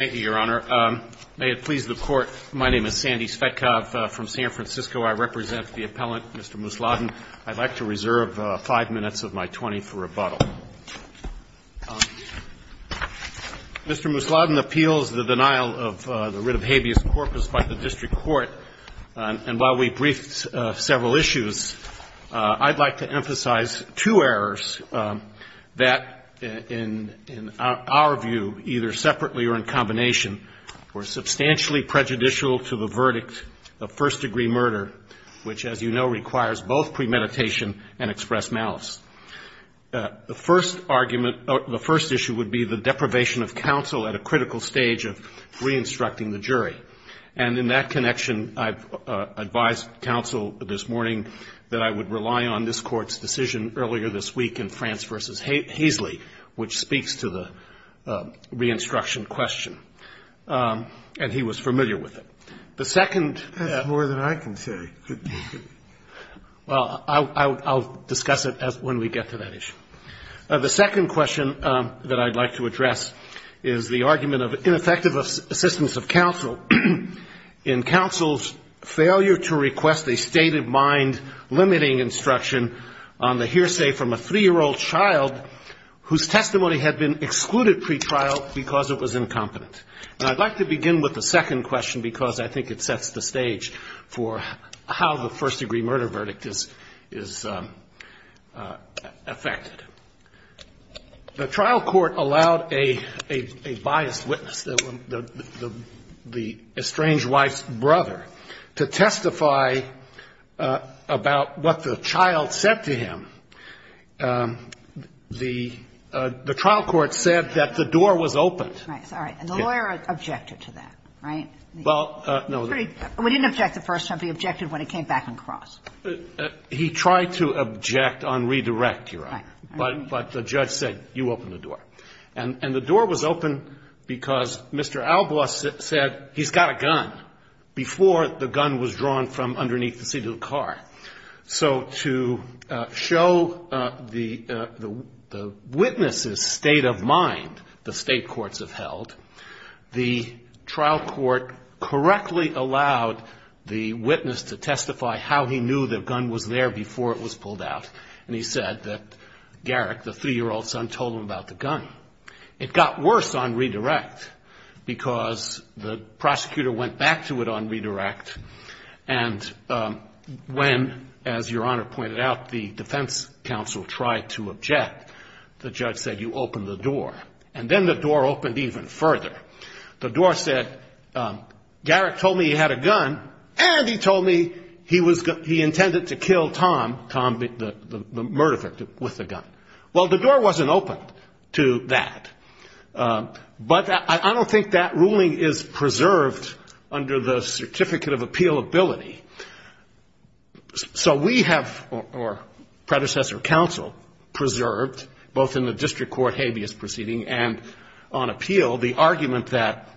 Thank you, Your Honor. May it please the Court, my name is Sandy Svetkov from San Francisco. I represent the appellant, Mr. Musladin. I'd like to reserve five minutes of my 20 minutes for rebuttal. Mr. Musladin appeals the denial of the writ of habeas corpus by the district court. And while we briefed several issues, I'd like to emphasize two errors that, in our view, either separately or in combination, were substantially prejudicial to the verdict of first-degree murder, which, as you know, requires both premeditation and express malice. The first argument or the first issue would be the deprivation of counsel at a critical stage of re-instructing the jury. And in that connection, I've advised counsel this morning that I would rely on this Court's decision earlier this week in France v. Haisley, which speaks to the re-instruction question. And he was familiar with it. The second — That's more than I can say. Well, I'll discuss it when we get to that issue. The second question that I'd like to address is the argument of ineffective assistance of counsel in counsel's failure to request a state-of-mind limiting instruction on the case whose testimony had been excluded pretrial because it was incompetent. And I'd like to begin with the second question, because I think it sets the stage for how the first-degree murder verdict is affected. The trial court allowed a biased witness, the estranged wife's brother, to testify about what the child said to him. The trial court said that the door was open. Right. Sorry. And the lawyer objected to that, right? Well, no. We didn't object the first time. He objected when it came back in cross. He tried to object on redirect, Your Honor. Right. But the judge said, you open the door. And the door was open because Mr. Albaugh said he's got a gun before the gun was drawn from underneath the seat of the car. So to show the witness's state of mind, the state courts have held, the trial court correctly allowed the witness to testify how he knew the gun was there before it was pulled out. And he said that Garrick, the three-year-old son, told him about the gun. It got worse on redirect because the prosecutor went back to it on redirect. And when, as Your Honor pointed out, the defense counsel tried to object, the judge said, you open the door. And then the door opened even further. The door said, Garrick told me he had a gun, and he told me he intended to kill Tom, the murderer, with the gun. Well, the door wasn't open to that. But I don't think that ruling is preserved under the Certificate of Appealability. So we have, or predecessor counsel, preserved, both in the district court habeas proceeding and on appeal, the argument that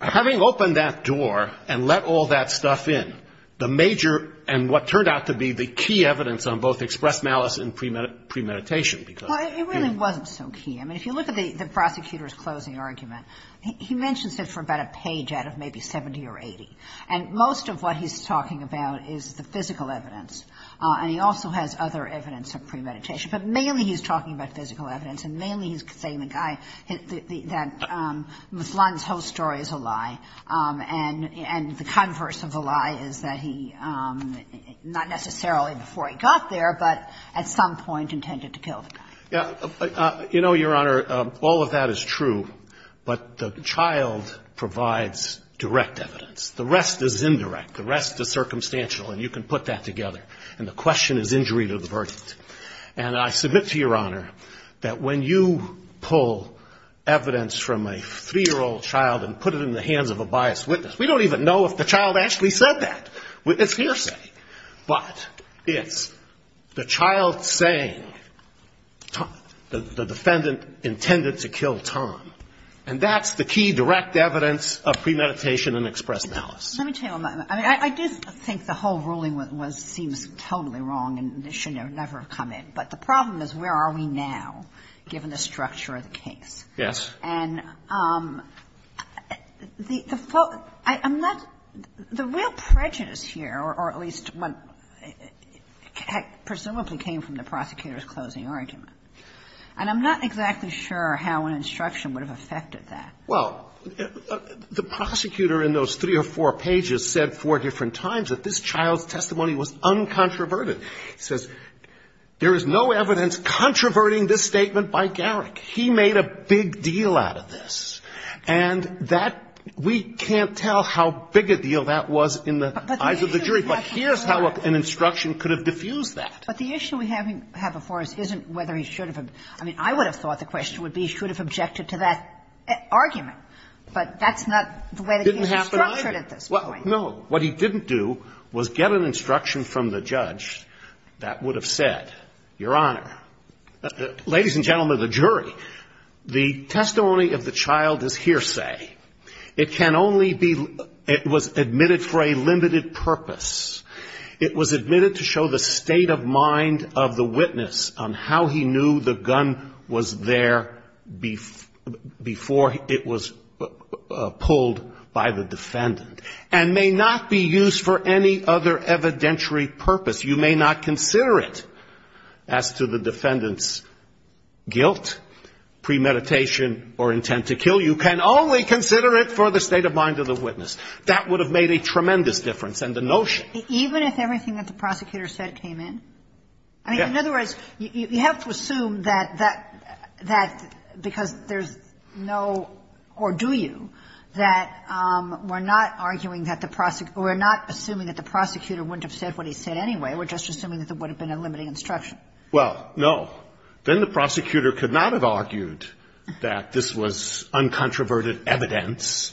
having opened that door and let all that stuff in, the major and what turned out to be the key evidence on both express malice and premeditation. Well, it really wasn't so key. I mean, if you look at the prosecutor's closing argument, he mentions it for about a page out of maybe 70 or 80. And most of what he's talking about is the physical evidence. And he also has other evidence of premeditation. But mainly he's talking about physical evidence, and mainly he's saying the guy, that Ms. Lund's whole story is a lie, and the converse of the lie is that he was, not necessarily before he got there, but at some point intended to kill the guy. You know, Your Honor, all of that is true. But the child provides direct evidence. The rest is indirect. The rest is circumstantial. And you can put that together. And the question is injury to the verdict. And I submit to Your Honor that when you pull evidence from a three-year-old child and put it in the hands of a biased witness, we don't even know if the child actually said that. It's hearsay. But it's the child saying the defendant intended to kill Tom. And that's the key direct evidence of premeditation and express malice. Let me tell you, I mean, I do think the whole ruling was seems totally wrong and should never have come in. But the problem is where are we now, given the structure of the case? Yes. And I'm not the real prejudice here, or at least what presumably came from the prosecutor's closing argument, and I'm not exactly sure how an instruction would have affected that. Well, the prosecutor in those three or four pages said four different times that this child's testimony was uncontroverted. He says there is no evidence controverting this statement by Garrick. He made a big deal out of this. And that we can't tell how big a deal that was in the eyes of the jury. But here's how an instruction could have diffused that. But the issue we have before us isn't whether he should have been. I mean, I would have thought the question would be he should have objected to that argument. But that's not the way the case is structured at this point. Didn't have an idea. No. What he didn't do was get an instruction from the judge that would have said, Your Honor, ladies and gentlemen of the jury, the testimony of the child is hearsay. It can only be, it was admitted for a limited purpose. It was admitted to show the state of mind of the witness on how he knew the gun was there before it was pulled by the defendant, and may not be used for any other evidentiary purpose. You may not consider it as to the defendant's guilt, premeditation, or intent to kill. You can only consider it for the state of mind of the witness. That would have made a tremendous difference. And the notion. Even if everything that the prosecutor said came in? Yes. I mean, in other words, you have to assume that because there's no or do you, that we're not arguing that the prosecutor, we're not assuming that the prosecutor wouldn't have said what he said anyway. We're just assuming that there would have been a limiting instruction. Well, no. Then the prosecutor could not have argued that this was uncontroverted evidence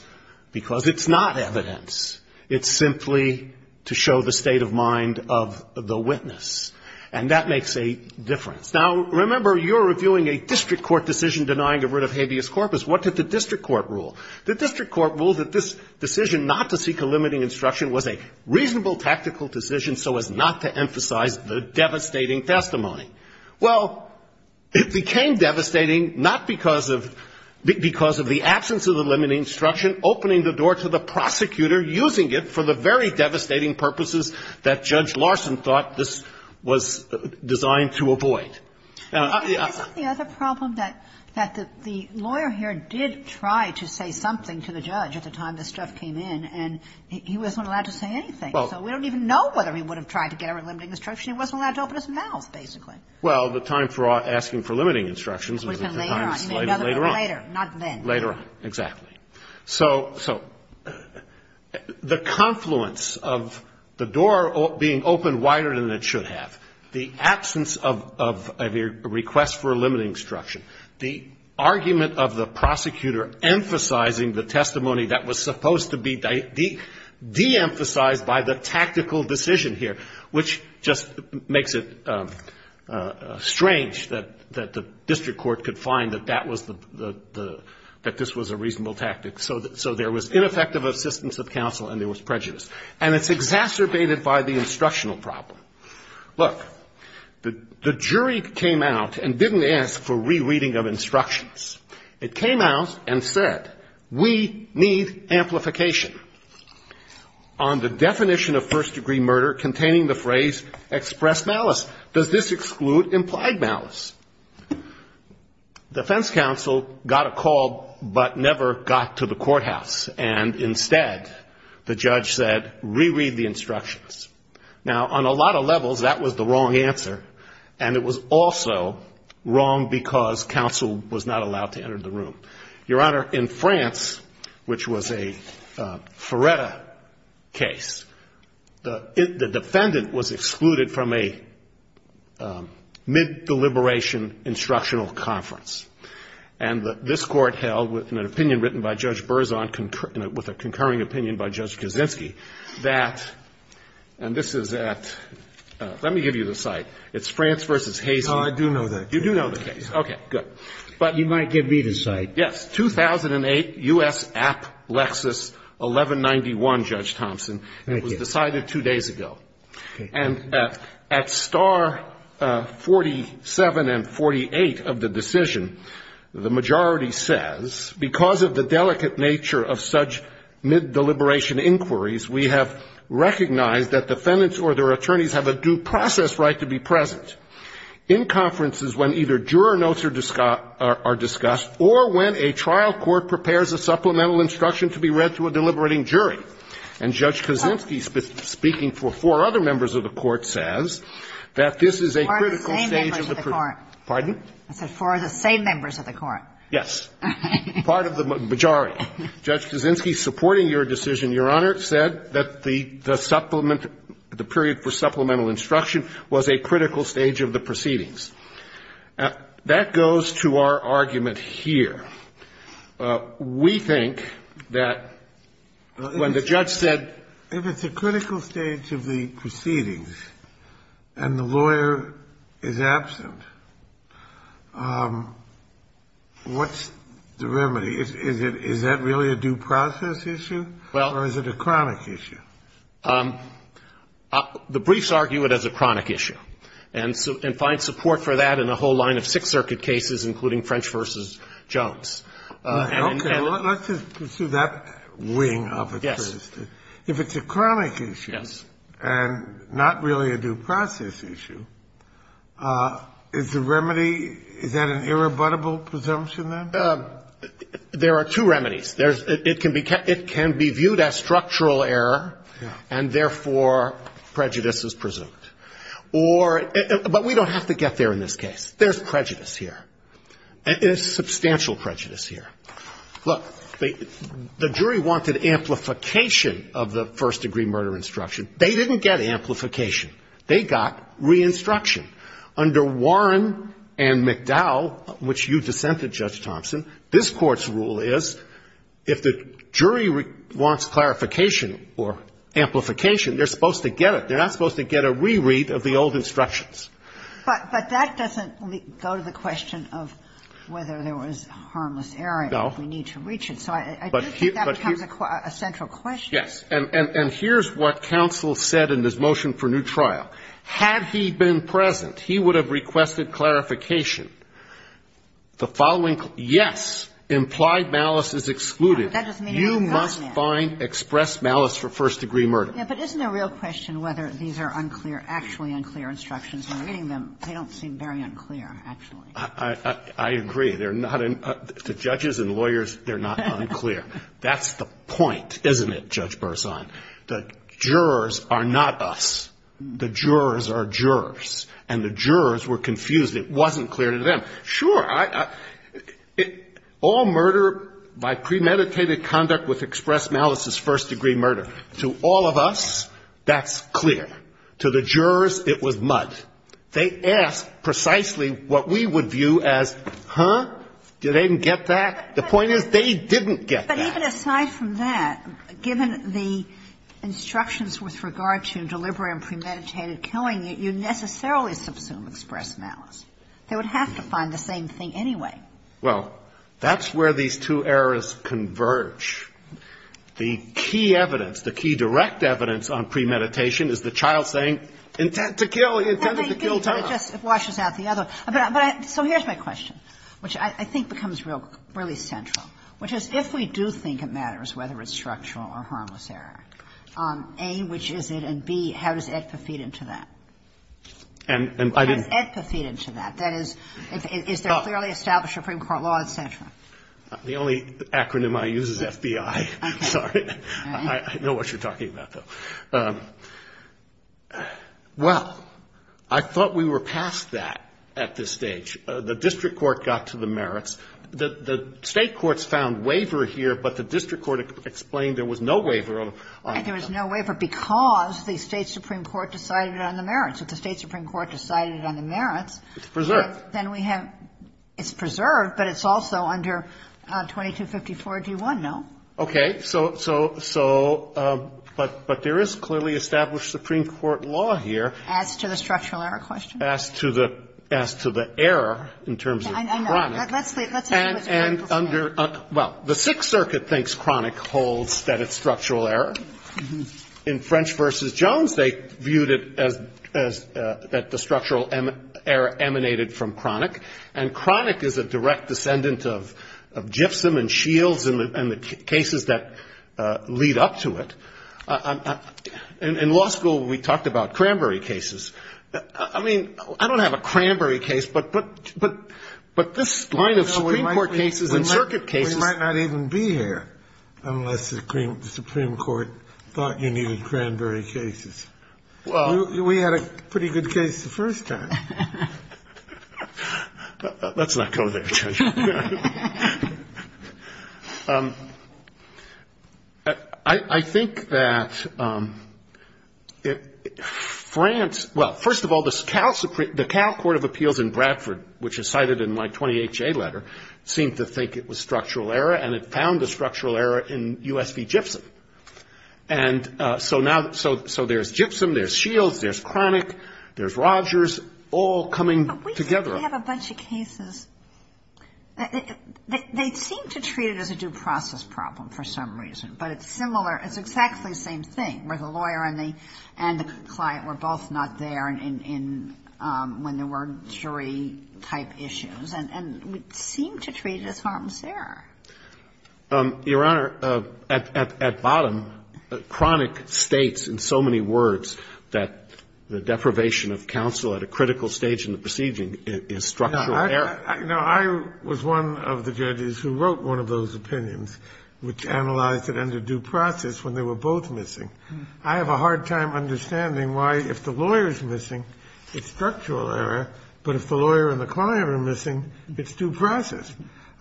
because it's not evidence. It's simply to show the state of mind of the witness. And that makes a difference. Now, remember, you're reviewing a district court decision denying a writ of habeas corpus. What did the district court rule? The district court ruled that this decision not to seek a limiting instruction was a reasonable tactical decision so as not to emphasize the devastating testimony. Well, it became devastating not because of the absence of the limiting instruction opening the door to the prosecutor using it for the very devastating purposes that Judge Larson thought this was designed to avoid. Isn't the other problem that the lawyer here did try to say something to the judge at the time this stuff came in, and he wasn't allowed to say anything. So we don't even know whether he would have tried to get a limiting instruction. He wasn't allowed to open his mouth, basically. Well, the time for asking for limiting instructions was later on. Later on. Not then. Later on. Exactly. So the confluence of the door being opened wider than it should have, the absence of a request for a limiting instruction, the argument of the prosecutor emphasizing the testimony that was supposed to be de-emphasized by the tactical decision here, which just makes it strange that the district court could find that that was the, that this was a reasonable tactic. So there was ineffective assistance of counsel and there was prejudice. And it's exacerbated by the instructional problem. Look, the jury came out and didn't ask for rereading of instructions. It came out and said, we need amplification on the definition of first-degree murder containing the phrase, express malice. Does this exclude implied malice? Defense counsel got a call but never got to the courthouse. And instead, the judge said, reread the instructions. Now, on a lot of levels, that was the wrong answer. And it was also wrong because counsel was not allowed to enter the room. Your Honor, in France, which was a Feretta case, the defendant was excluded from a mid-deliberation instructional conference. And this court held, in an opinion written by Judge Berzon, with a concurring opinion by Judge Kaczynski, that, and this is at, let me give you the site. It's France v. Hazen. Oh, I do know that. You do know the case. Okay, good. But you might give me the site. Yes. 2008, U.S. App Lexus 1191, Judge Thompson. Thank you. It was decided two days ago. And at star 47 and 48 of the decision, the majority says, because of the delicate nature of such mid-deliberation inquiries, we have recognized that defendants or their attorneys have a due process right to be present in conferences when either juror notes are discussed or when a trial court prepares a supplemental instruction to be read to a deliberating jury. And Judge Kaczynski, speaking for four other members of the Court, says that this is a critical stage of the procedure. Pardon? I said four of the same members of the Court. Yes. Part of the majority. Judge Kaczynski, supporting your decision, Your Honor, said that the supplement the period for supplemental instruction was a critical stage of the proceedings. That goes to our argument here. We think that when the judge said If it's a critical stage of the proceedings and the lawyer is absent, what's the remedy? Is that really a due process issue? Or is it a chronic issue? The briefs argue it as a chronic issue. And find support for that in a whole line of Sixth Circuit cases, including French v. Jones. Okay. Let's just pursue that wing of it first. If it's a chronic issue and not really a due process issue, is the remedy, is that an irrebuttable presumption, then? There are two remedies. It can be viewed as structural error, and therefore prejudice is presumed. Or, but we don't have to get there in this case. There's prejudice here. There's substantial prejudice here. Look, the jury wanted amplification of the first-degree murder instruction. They didn't get amplification. They got re-instruction. Under Warren and McDowell, which you dissented, Judge Thompson, this Court's rule is if the jury wants clarification or amplification, they're supposed to get it. They're not supposed to get a reread of the old instructions. But that doesn't go to the question of whether there was harmless error. No. If we need to reach it. So I do think that becomes a central question. Yes. And here's what counsel said in his motion for new trial. Had he been present, he would have requested clarification. The following, yes, implied malice is excluded. You must find expressed malice for first-degree murder. Yeah, but isn't the real question whether these are unclear, actually unclear instructions? When reading them, they don't seem very unclear, actually. I agree. They're not unclear. To judges and lawyers, they're not unclear. That's the point, isn't it, Judge Burson? The jurors are not us. The jurors are jurors. And the jurors were confused. It wasn't clear to them. Sure, all murder by premeditated conduct with expressed malice is first-degree murder. To all of us, that's clear. To the jurors, it was mud. They asked precisely what we would view as, huh, do they even get that? The point is they didn't get that. But even aside from that, given the instructions with regard to deliberate and premeditated killing, you necessarily subsume expressed malice. They would have to find the same thing anyway. Well, that's where these two errors converge. The key evidence, the key direct evidence on premeditation is the child saying, intend to kill, he intended to kill Tom. It washes out the other. So here's my question, which I think becomes really central, which is if we do think it matters whether it's structural or harmless error, A, which is it, and B, how does AEDPA feed into that? How does AEDPA feed into that? That is, is there clearly established Supreme Court law, et cetera? The only acronym I use is FBI. I'm sorry. I know what you're talking about, though. Well, I thought we were past that at this stage. The district court got to the merits. The state courts found waiver here, but the district court explained there was no waiver. There was no waiver because the state Supreme Court decided on the merits. If the state Supreme Court decided on the merits, then we have, it's preserved, but it's also under 2254-D1, no? Okay. So, but there is clearly established Supreme Court law here. As to the structural error question? As to the error in terms of Cronic. I know. Let's leave it with Cronic. Well, the Sixth Circuit thinks Cronic holds that it's structural error. In French v. Jones, they viewed it as that the structural error emanated from Cronic, and Cronic is a direct descendant of GIFSUM and SHIELDS and the cases that lead up to it. In law school, we talked about Cranberry cases. I mean, I don't have a Cranberry case, but this line of Supreme Court cases and circuit cases. We might not even be here unless the Supreme Court thought you needed Cranberry cases. We had a pretty good case the first time. Let's not go there. I think that France, well, first of all, the Cal Court of Appeals in Bradford, which is cited in my 28-J letter, seemed to think it was structural error, and it found the structural error in U.S. v. GIFSUM. And so now, so there's GIFSUM, there's SHIELDS, there's Cronic, there's Rogers, all coming together. But we have a bunch of cases. They seem to treat it as a due process problem for some reason, but it's similar. It's exactly the same thing, where the lawyer and the client were both not there when there were jury-type issues, and we seem to treat it as harm's error. Your Honor, at bottom, Cronic states in so many words that the deprivation of counsel at a critical stage in the proceeding is structural error. No. I was one of the judges who wrote one of those opinions, which analyzed it under due process when they were both missing. I have a hard time understanding why if the lawyer is missing, it's structural error, but if the lawyer and the client are missing, it's due process.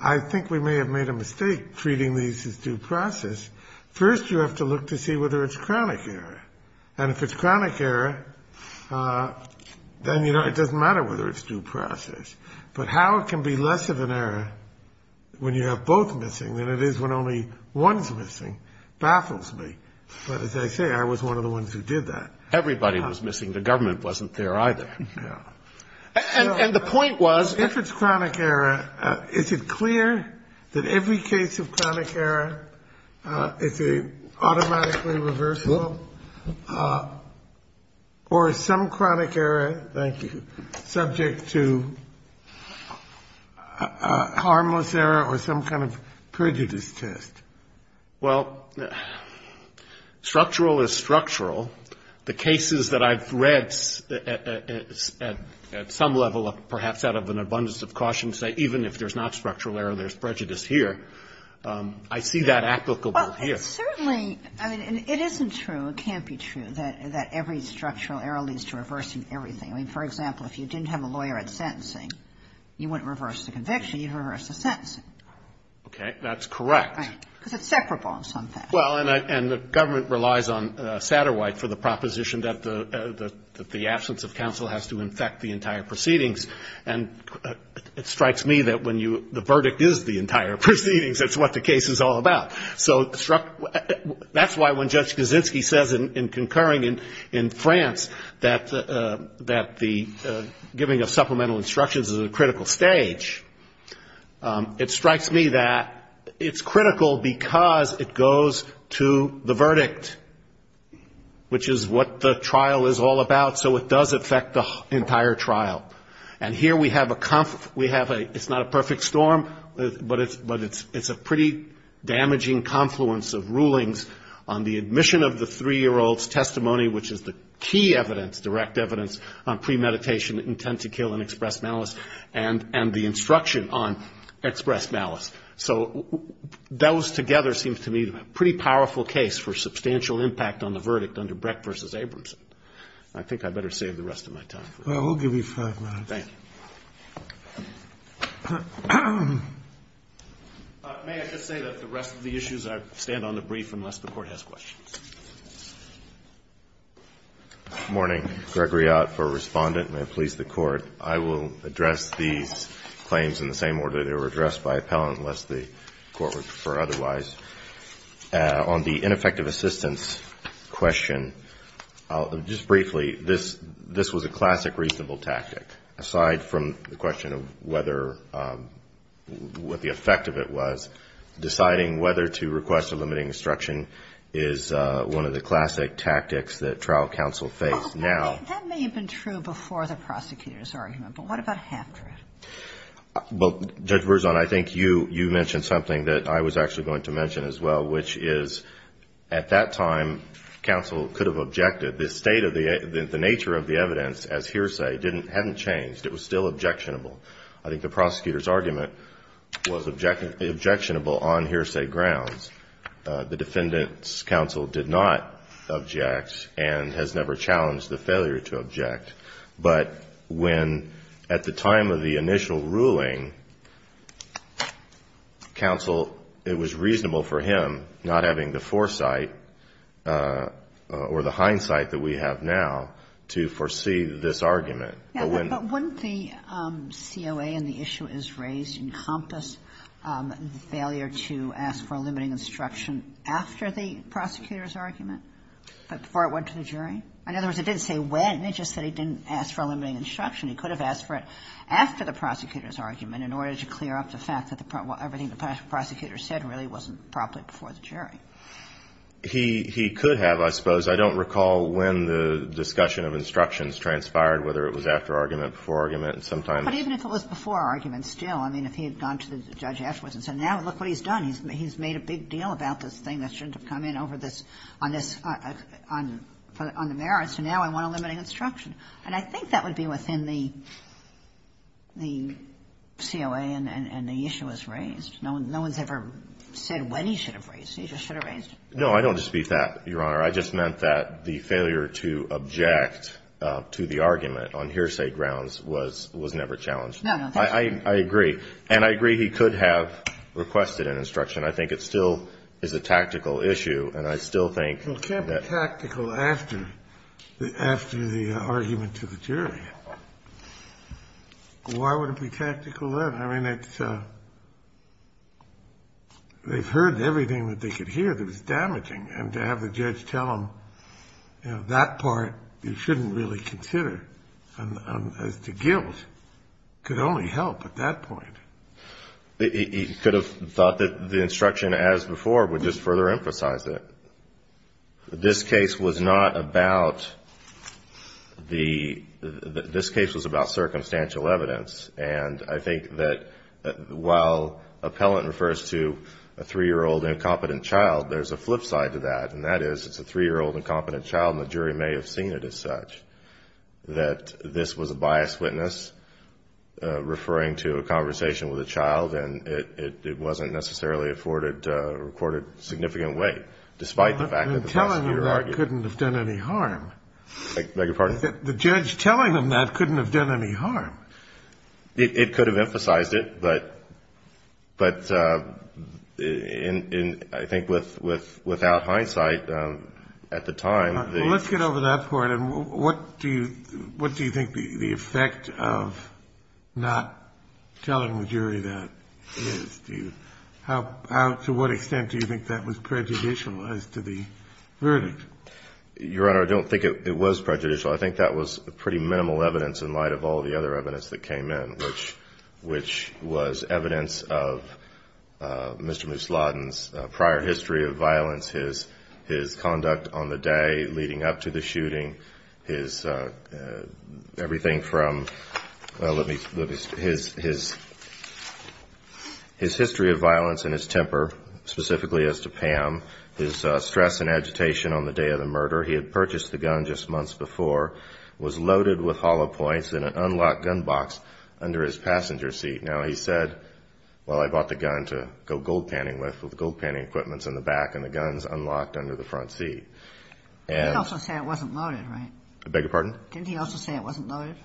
I think we may have made a mistake treating these as due process. First, you have to look to see whether it's Cronic error. And if it's Cronic error, then it doesn't matter whether it's due process. But how it can be less of an error when you have both missing than it is when only one's missing baffles me. But as I say, I was one of the ones who did that. Everybody was missing. The government wasn't there either. Yeah. And the point was — Is it clear that every case of Cronic error is an automatically reversible or is some Cronic error, thank you, subject to harmless error or some kind of prejudice test? Well, structural is structural. The cases that I've read at some level, perhaps out of an abundance of caution, say even if there's not structural error, there's prejudice here, I see that applicable here. Well, it's certainly — I mean, it isn't true, it can't be true that every structural error leads to reversing everything. I mean, for example, if you didn't have a lawyer at sentencing, you wouldn't reverse the conviction. You'd reverse the sentencing. Okay. That's correct. Right. Because it's separable in some fashion. Well, and the government relies on Satterwhite for the proposition that the absence of counsel has to infect the entire proceedings. And it strikes me that when the verdict is the entire proceedings, that's what the case is all about. So that's why when Judge Kaczynski says in concurring in France that the giving of supplemental instructions is a critical stage, it strikes me that it's critical because it goes to the verdict, which is what the trial is all about. So it does affect the entire trial. And here we have a — it's not a perfect storm, but it's a pretty damaging confluence of rulings on the admission of the three-year-old's testimony, which is the key evidence, direct malice, and the instruction on express malice. So those together seem to me a pretty powerful case for substantial impact on the verdict under Brecht v. Abramson. I think I'd better save the rest of my time. Well, we'll give you five minutes. Thank you. May I just say that the rest of the issues I stand on the brief unless the Court has questions. Good morning. Gregory Ott for Respondent. May it please the Court. I will address these claims in the same order they were addressed by appellant unless the Court would prefer otherwise. On the ineffective assistance question, just briefly, this was a classic reasonable tactic, aside from the question of whether — what the effect of it was. Deciding whether to request a limiting instruction is one of the classic tactics that trial counsel face now. That may have been true before the prosecutor's argument, but what about after it? Well, Judge Berzon, I think you mentioned something that I was actually going to mention as well, which is at that time counsel could have objected. The state of the — the nature of the evidence as hearsay didn't — hadn't changed. It was still objectionable. I think the prosecutor's argument was objectionable on hearsay grounds. The defendant's counsel did not object and has never challenged the failure to object. But when, at the time of the initial ruling, counsel, it was reasonable for him, not having the foresight or the hindsight that we have now, to foresee this argument. But when — But wouldn't the COA and the issue as raised encompass the failure to ask for a limiting instruction after the prosecutor's argument, before it went to the jury? In other words, it didn't say when. It just said he didn't ask for a limiting instruction. He could have asked for it after the prosecutor's argument in order to clear up the fact that everything the prosecutor said really wasn't properly before the jury. He — he could have, I suppose. I don't recall when the discussion of instructions transpired, whether it was after argument, before argument, and sometimes — But even if it was before argument still, I mean, if he had gone to the judge afterwards and said, now look what he's done. He's made a big deal about this thing that shouldn't have come in over this — on this — on the merits, and now I want a limiting instruction. And I think that would be within the COA and the issue as raised. No one's ever said when he should have raised it. He just should have raised it. No, I don't dispute that, Your Honor. I just meant that the failure to object to the argument on hearsay grounds was never challenged. I agree. And I agree he could have requested an instruction. I think it still is a tactical issue, and I still think that — Well, it can't be tactical after the argument to the jury. Why would it be tactical then? I mean, it's — they've heard everything that they could hear that was damaging, and to have the judge tell them, you know, that part you shouldn't really consider as to guilt could only help at that point. He could have thought that the instruction as before would just further emphasize it. This case was not about the — this case was about circumstantial evidence, and I think that while appellant refers to a 3-year-old incompetent child, there's a flip side to that, and that is it's a 3-year-old incompetent child, and the jury may have seen it as that this was a biased witness referring to a conversation with a child, and it wasn't necessarily afforded — recorded significant weight, despite the fact that the prosecutor argued — Well, then telling them that couldn't have done any harm. I beg your pardon? The judge telling them that couldn't have done any harm. It could have emphasized it, but I think without hindsight, at the time, the — What do you think the effect of not telling the jury that is? Do you — how — to what extent do you think that was prejudicial as to the verdict? Your Honor, I don't think it was prejudicial. I think that was pretty minimal evidence in light of all the other evidence that came in, which was evidence of Mr. Musladin's prior history of violence, his conduct on the day of the shooting, his — everything from — well, let me — his history of violence and his temper, specifically as to Pam, his stress and agitation on the day of the murder. He had purchased the gun just months before, was loaded with hollow points in an unlocked gun box under his passenger seat. Now, he said, well, I bought the gun to go gold panning with, with gold panning equipment in the back and the guns unlocked under the front seat. And — He also said it wasn't loaded, right? I beg your pardon? Didn't he also say it wasn't loaded?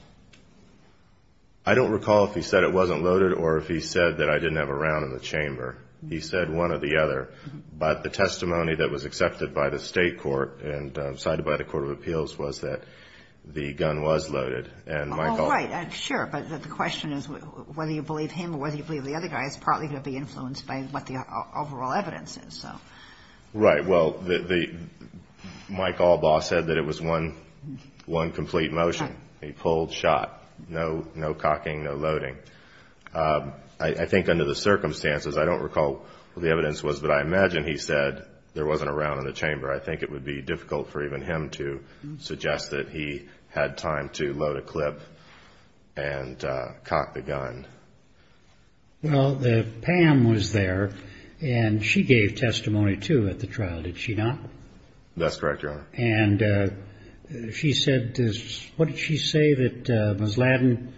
I don't recall if he said it wasn't loaded or if he said that I didn't have a round in the chamber. He said one or the other. But the testimony that was accepted by the State Court and cited by the Court of Appeals was that the gun was loaded. And my call — Well, right. Sure. But the question is whether you believe him or whether you believe the other guy is partly going to be influenced by what the overall evidence is. So — Right. Well, the — Mike Albaugh said that it was one, one complete motion. He pulled, shot. No, no cocking, no loading. I think under the circumstances, I don't recall what the evidence was, but I imagine he said there wasn't a round in the chamber. I think it would be difficult for even him to suggest that he had time to load a clip and cock the gun. Well, Pam was there, and she gave testimony, too, at the trial, did she not? That's correct, Your Honor. And she said — what did she say that Ms. Ladin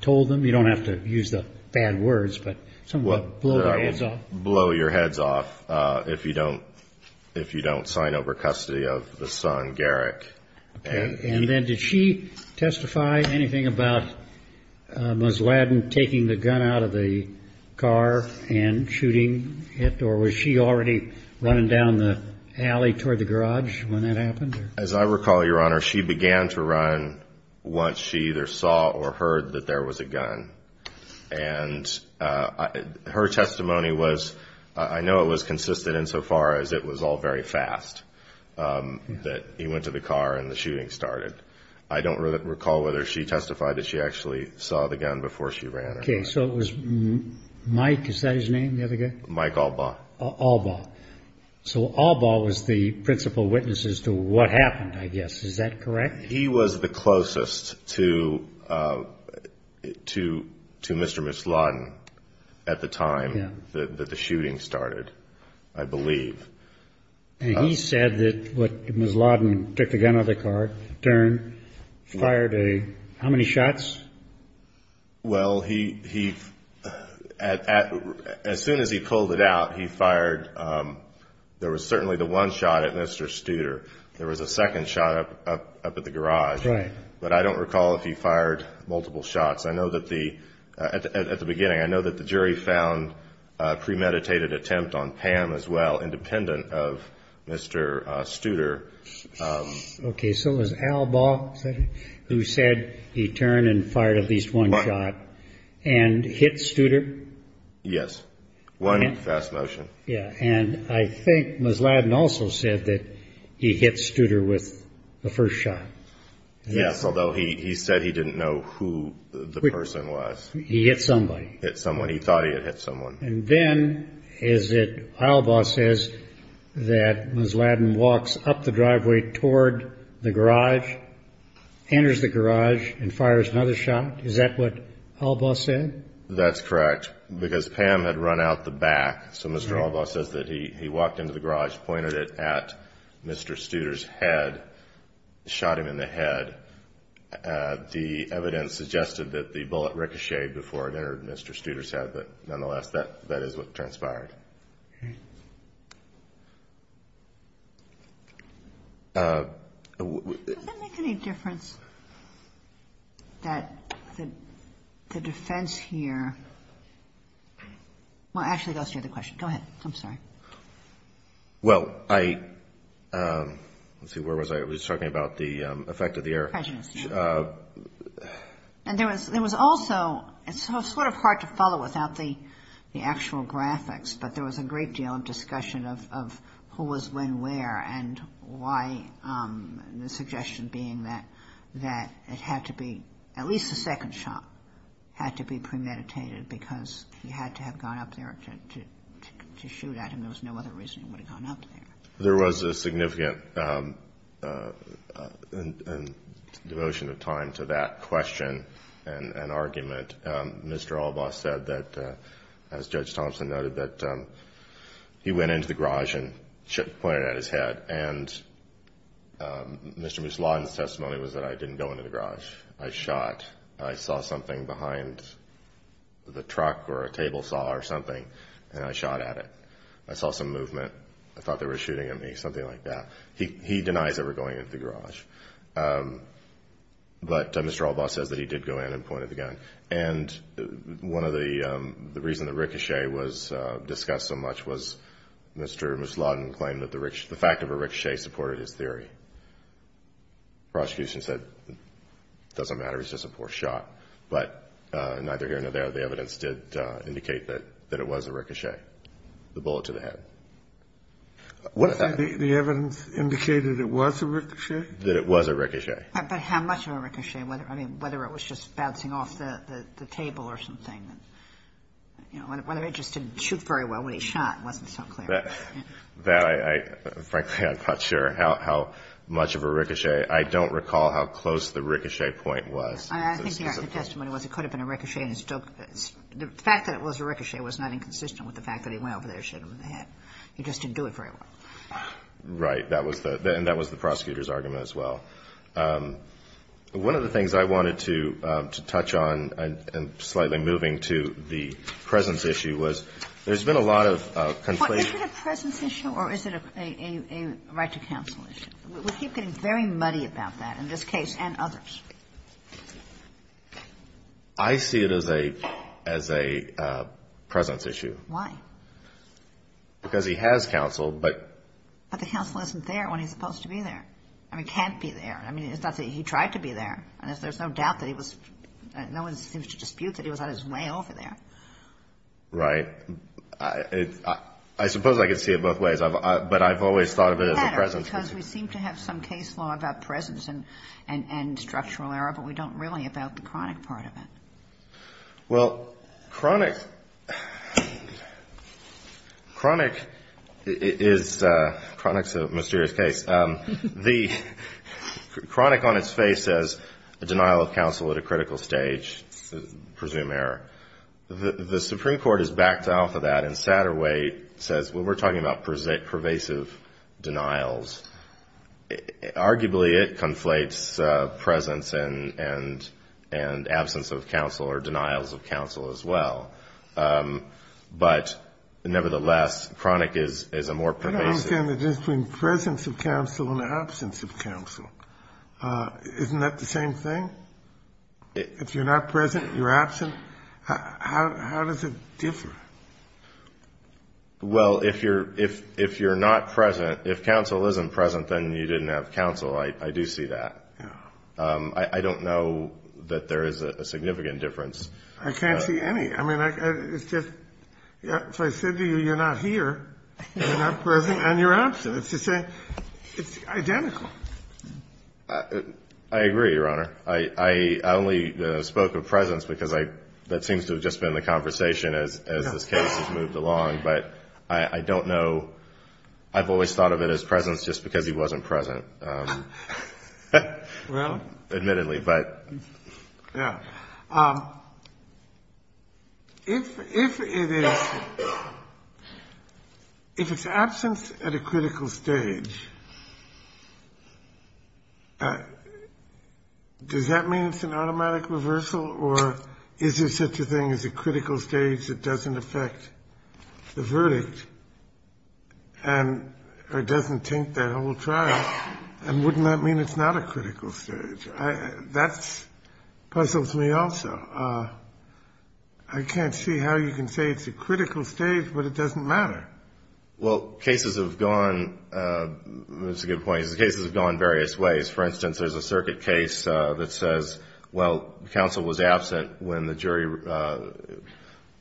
told them? You don't have to use the bad words, but something about blow their heads off. Blow your heads off if you don't sign over custody of the son, Garrick. And then did she testify anything about Ms. Ladin taking the gun out of the car and shooting it, or was she already running down the alley toward the garage when that happened? As I recall, Your Honor, she began to run once she either saw or heard that there was a gun. And her testimony was — I know it was consistent insofar as it was all very fast, that he went to the car and the shooting started. I don't recall whether she testified that she actually saw the gun before she ran or not. Okay, so it was Mike — is that his name, the other guy? Mike Albaugh. Albaugh. So Albaugh was the principal witness as to what happened, I guess. Is that correct? He was the closest to Mr. and Ms. Ladin at the time that the shooting started, I believe. And he said that Ms. Ladin took the gun out of the car, turned, fired a — how many shots? Well, he — as soon as he pulled it out, he fired — there was certainly the one shot at Mr. Studer. There was a second shot up at the garage. Right. But I don't recall if he fired multiple shots. At the beginning, I know that the jury found a premeditated attempt on Pam as well, independent of Mr. Studer. Okay, so it was Albaugh who said he turned and fired at least one shot and hit Studer? Yes. One fast motion. Yeah. And I think Ms. Ladin also said that he hit Studer with the first shot. Yes, although he said he didn't know who the person was. He hit somebody. Hit someone. He thought he had hit someone. And then is it — Albaugh says that Ms. Ladin walks up the driveway toward the garage, enters the garage, and fires another shot. Is that what Albaugh said? That's correct, because Pam had run out the back. So Mr. Albaugh says that he walked into the garage, pointed it at Mr. Studer's head, shot him in the head. The evidence suggested that the bullet ricocheted before it entered Mr. Studer's head. But nonetheless, that is what transpired. Does that make any difference that the defense here — well, actually, that's the other question. Go ahead. I'm sorry. Well, I — let's see, where was I? I was talking about the effect of the air. Prejudice. And there was also — it's sort of hard to follow without the actual graphics, but the fact that there was a bullet but there was a great deal of discussion of who was when where and why, the suggestion being that it had to be — at least the second shot had to be premeditated because he had to have gone up there to shoot at him. There was no other reason he would have gone up there. There was a significant devotion of time to that question and argument. Mr. Albaugh said that, as Judge Thompson noted, that he went into the garage and pointed at his head. And Mr. Musladin's testimony was that I didn't go into the garage. I shot. I saw something behind the truck or a table saw or something, and I shot at it. I saw some movement. I thought they were shooting at me, something like that. He denies ever going into the garage. But Mr. Albaugh says that he did go in and point at the gun. And one of the reasons the ricochet was discussed so much was Mr. Musladin claimed that the fact of a ricochet supported his theory. The prosecution said it doesn't matter. It's just a poor shot. But neither here nor there, the evidence did indicate that it was a ricochet, the bullet to the head. The evidence indicated it was a ricochet? That it was a ricochet. But how much of a ricochet? I mean, whether it was just bouncing off the table or something. Whether it just didn't shoot very well when he shot wasn't so clear. Frankly, I'm not sure how much of a ricochet. I don't recall how close the ricochet point was. I think the argument in the testimony was it could have been a ricochet. The fact that it was a ricochet was not inconsistent with the fact that he went over there and shot him in the head. He just didn't do it very well. Right. And that was the prosecutor's argument as well. One of the things I wanted to touch on, and slightly moving to the presence issue, was there's been a lot of complaints. Is it a presence issue or is it a right to counsel issue? We keep getting very muddy about that in this case and others. I see it as a presence issue. Why? Because he has counsel. But the counsel isn't there when he's supposed to be there. I mean, he can't be there. I mean, it's not that he tried to be there. There's no doubt that he was – no one seems to dispute that he was on his way over there. Right. I suppose I could see it both ways, but I've always thought of it as a presence issue. Because we seem to have some case law about presence and structural error, but we don't really about the chronic part of it. Well, chronic is a mysterious case. Chronic on its face is a denial of counsel at a critical stage, presumed error. The Supreme Court is backed off of that, and Satterwhite says when we're talking about pervasive denials, arguably it conflates presence and absence of counsel or denials of counsel as well. But, nevertheless, chronic is a more pervasive. I don't understand the difference between presence of counsel and absence of counsel. Isn't that the same thing? If you're not present, you're absent. How does it differ? Well, if you're not present – if counsel isn't present, then you didn't have counsel. I do see that. I don't know that there is a significant difference. I can't see any. I mean, it's just – if I said to you you're not here, you're not present, and you're absent. It's the same – it's identical. I agree, Your Honor. I only spoke of presence because that seems to have just been the conversation as this case has moved along. But I don't know – I've always thought of it as presence just because he wasn't present, admittedly. But – yeah. If it is – if it's absence at a critical stage, does that mean it's an automatic reversal? Or is there such a thing as a critical stage that doesn't affect the verdict and – or doesn't taint that whole trial? And wouldn't that mean it's not a critical stage? That puzzles me also. I can't see how you can say it's a critical stage, but it doesn't matter. Well, cases have gone – that's a good point. Cases have gone various ways. For instance, there's a circuit case that says, well, counsel was absent when the jury –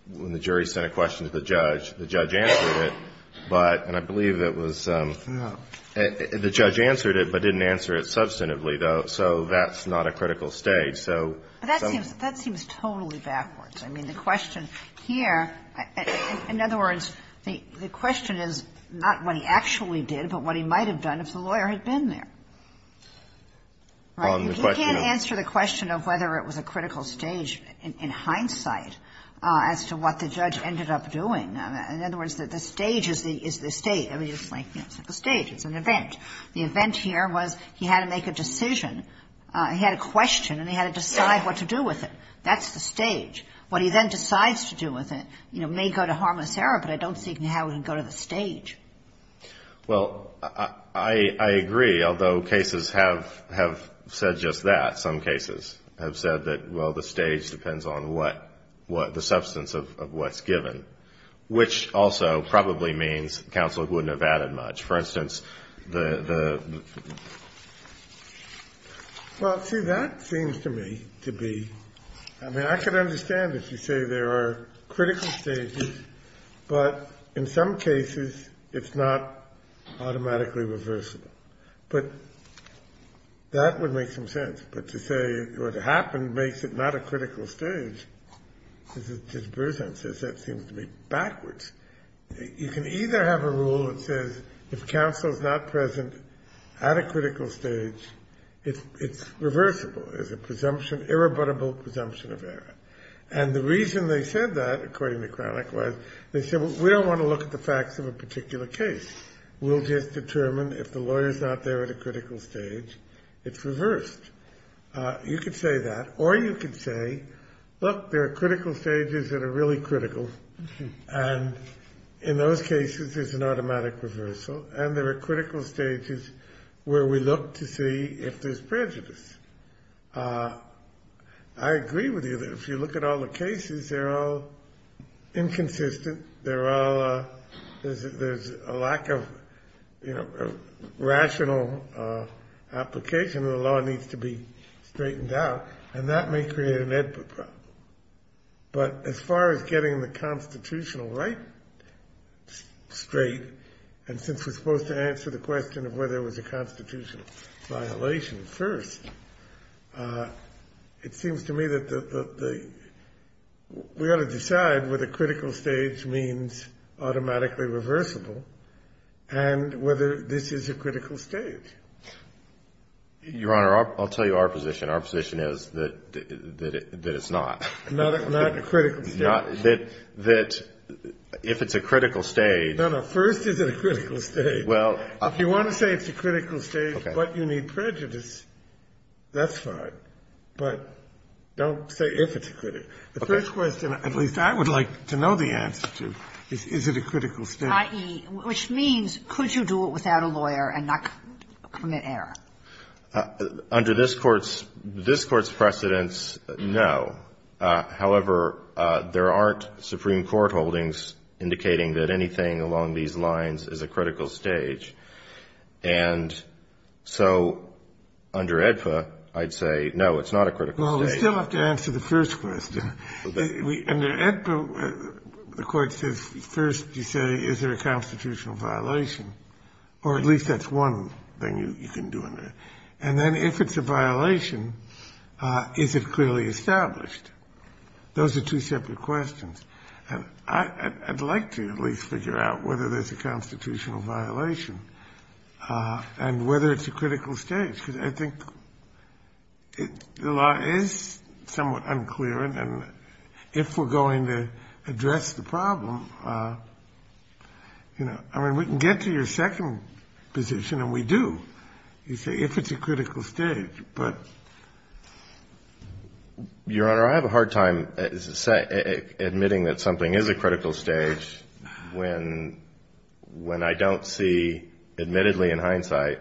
when the jury sent a question to the judge. The judge answered it. But – and I believe it was – the judge answered it, but didn't answer it substantively, though. So that's not a critical stage. So – But that seems – that seems totally backwards. I mean, the question here – in other words, the question is not what he actually did, but what he might have done if the lawyer had been there. Right? You can't answer the question of whether it was a critical stage in hindsight as to what the judge ended up doing. In other words, the stage is the state. I mean, it's like – the stage is an event. The event here was he had to make a decision. He had a question, and he had to decide what to do with it. That's the stage. What he then decides to do with it, you know, may go to harmless error, but I don't see how it would go to the stage. Well, I agree, although cases have said just that. Some cases have said that, well, the stage depends on what – the substance of what's given. Which also probably means counsel wouldn't have added much. For instance, the – Well, see, that seems to me to be – I mean, I could understand if you say there are critical stages, but in some cases it's not automatically reversible. But that would make some sense. But to say what happened makes it not a critical stage. Judge Berzahn says that seems to be backwards. You can either have a rule that says if counsel's not present at a critical stage, it's reversible. There's a presumption – irrebuttable presumption of error. And the reason they said that, according to Cranach, was they said, well, we don't want to look at the facts of a particular case. We'll just determine if the lawyer's not there at a critical stage, it's reversed. You could say that. Or you could say, look, there are critical stages that are really critical. And in those cases, there's an automatic reversal. And there are critical stages where we look to see if there's prejudice. I agree with you that if you look at all the cases, they're all inconsistent. They're all – there's a lack of, you know, rational application. The law needs to be straightened out. And that may create an input problem. But as far as getting the constitutional right straight, and since we're supposed to answer the question of whether it was a constitutional violation first, it seems to me that the – we ought to decide whether critical stage means automatically reversible and whether this is a critical stage. Your Honor, I'll tell you our position. Our position is that it's not. Not a critical stage. That if it's a critical stage – No, no. First, is it a critical stage? Well – If you want to say it's a critical stage but you need prejudice, that's fine. But don't say if it's a critical stage. The first question, at least I would like to know the answer to, is it a critical stage? I.e., which means could you do it without a lawyer and not commit error? Under this Court's – this Court's precedence, no. However, there aren't Supreme Court holdings indicating that anything along these lines is a critical stage. And so under AEDPA, I'd say, no, it's not a critical stage. Well, we still have to answer the first question. Under AEDPA, the Court says first you say, is there a constitutional violation? Or at least that's one thing you can do in there. And then if it's a violation, is it clearly established? Those are two separate questions. And I'd like to at least figure out whether there's a constitutional violation and whether it's a critical stage. Because I think the law is somewhat unclear. And if we're going to address the problem, you know, I mean, we can get to your second position, and we do, you see, if it's a critical stage. But, Your Honor, I have a hard time admitting that something is a critical stage when I don't see, admittedly in hindsight,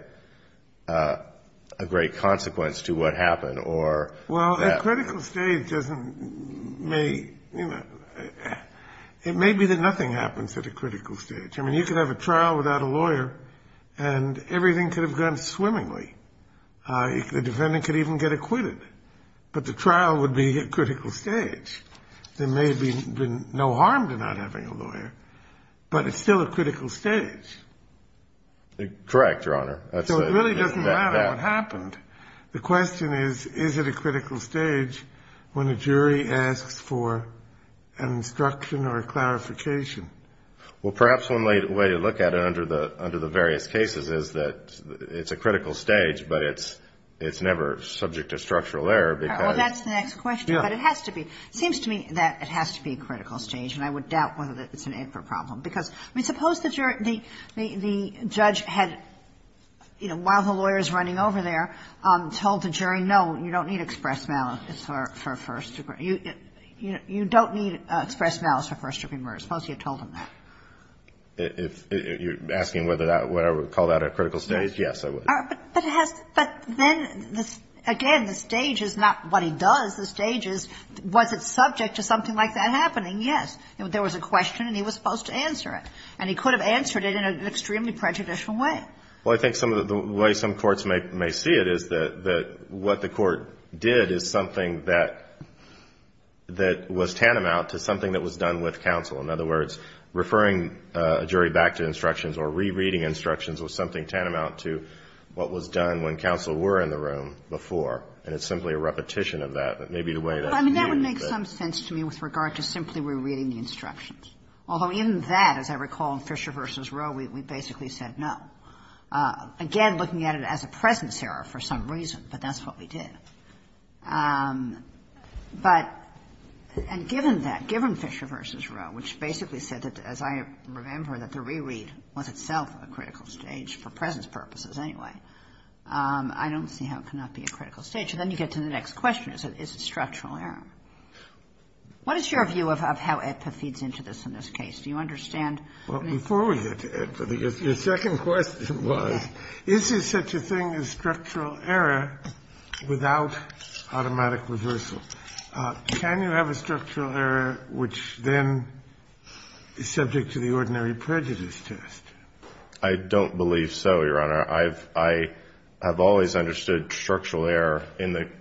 a great consequence to what happened or that. Well, a critical stage doesn't make – you know, it may be that nothing happens at a critical stage. I mean, you could have a trial without a lawyer, and everything could have gone swimmingly. The defendant could even get acquitted. But the trial would be a critical stage. There may have been no harm to not having a lawyer, but it's still a critical stage. Correct, Your Honor. So it really doesn't matter what happened. The question is, is it a critical stage when a jury asks for an instruction or a clarification? Well, perhaps one way to look at it under the various cases is that it's a critical stage, but it's never subject to structural error because – All right. Well, that's the next question. Yeah. But it has to be. It seems to me that it has to be a critical stage, and I would doubt whether that's an improper problem. Because, I mean, suppose the judge had, you know, while the lawyer is running over there, told the jury, no, you don't need express malice for first degree murder. You don't need express malice for first degree murder. Suppose you had told them that. If you're asking whether I would call that a critical stage, yes, I would. But it has – but then, again, the stage is not what he does. The stage is, was it subject to something like that happening? Yes. There was a question, and he was supposed to answer it. And he could have answered it in an extremely prejudicial way. Well, I think some of the way some courts may see it is that what the court did is something that was tantamount to something that was done with counsel. In other words, referring a jury back to instructions or rereading instructions was something tantamount to what was done when counsel were in the room before. And it's simply a repetition of that. That may be the way that he viewed it. Well, I mean, that would make some sense to me with regard to simply rereading the instructions. Although even that, as I recall in Fisher v. Roe, we basically said no. Again, looking at it as a presence error for some reason, but that's what we did. But – and given that, given Fisher v. Roe, which basically said that, as I remember, that the reread was itself a critical stage for presence purposes anyway, I don't see how it cannot be a critical stage. And then you get to the next question. Is it structural error? What is your view of how AEDPA feeds into this in this case? Do you understand? Well, before we get to AEDPA, your second question was, is there such a thing as structural error without automatic reversal? Can you have a structural error which then is subject to the ordinary prejudice test? I don't believe so, Your Honor. I have always understood structural error in the –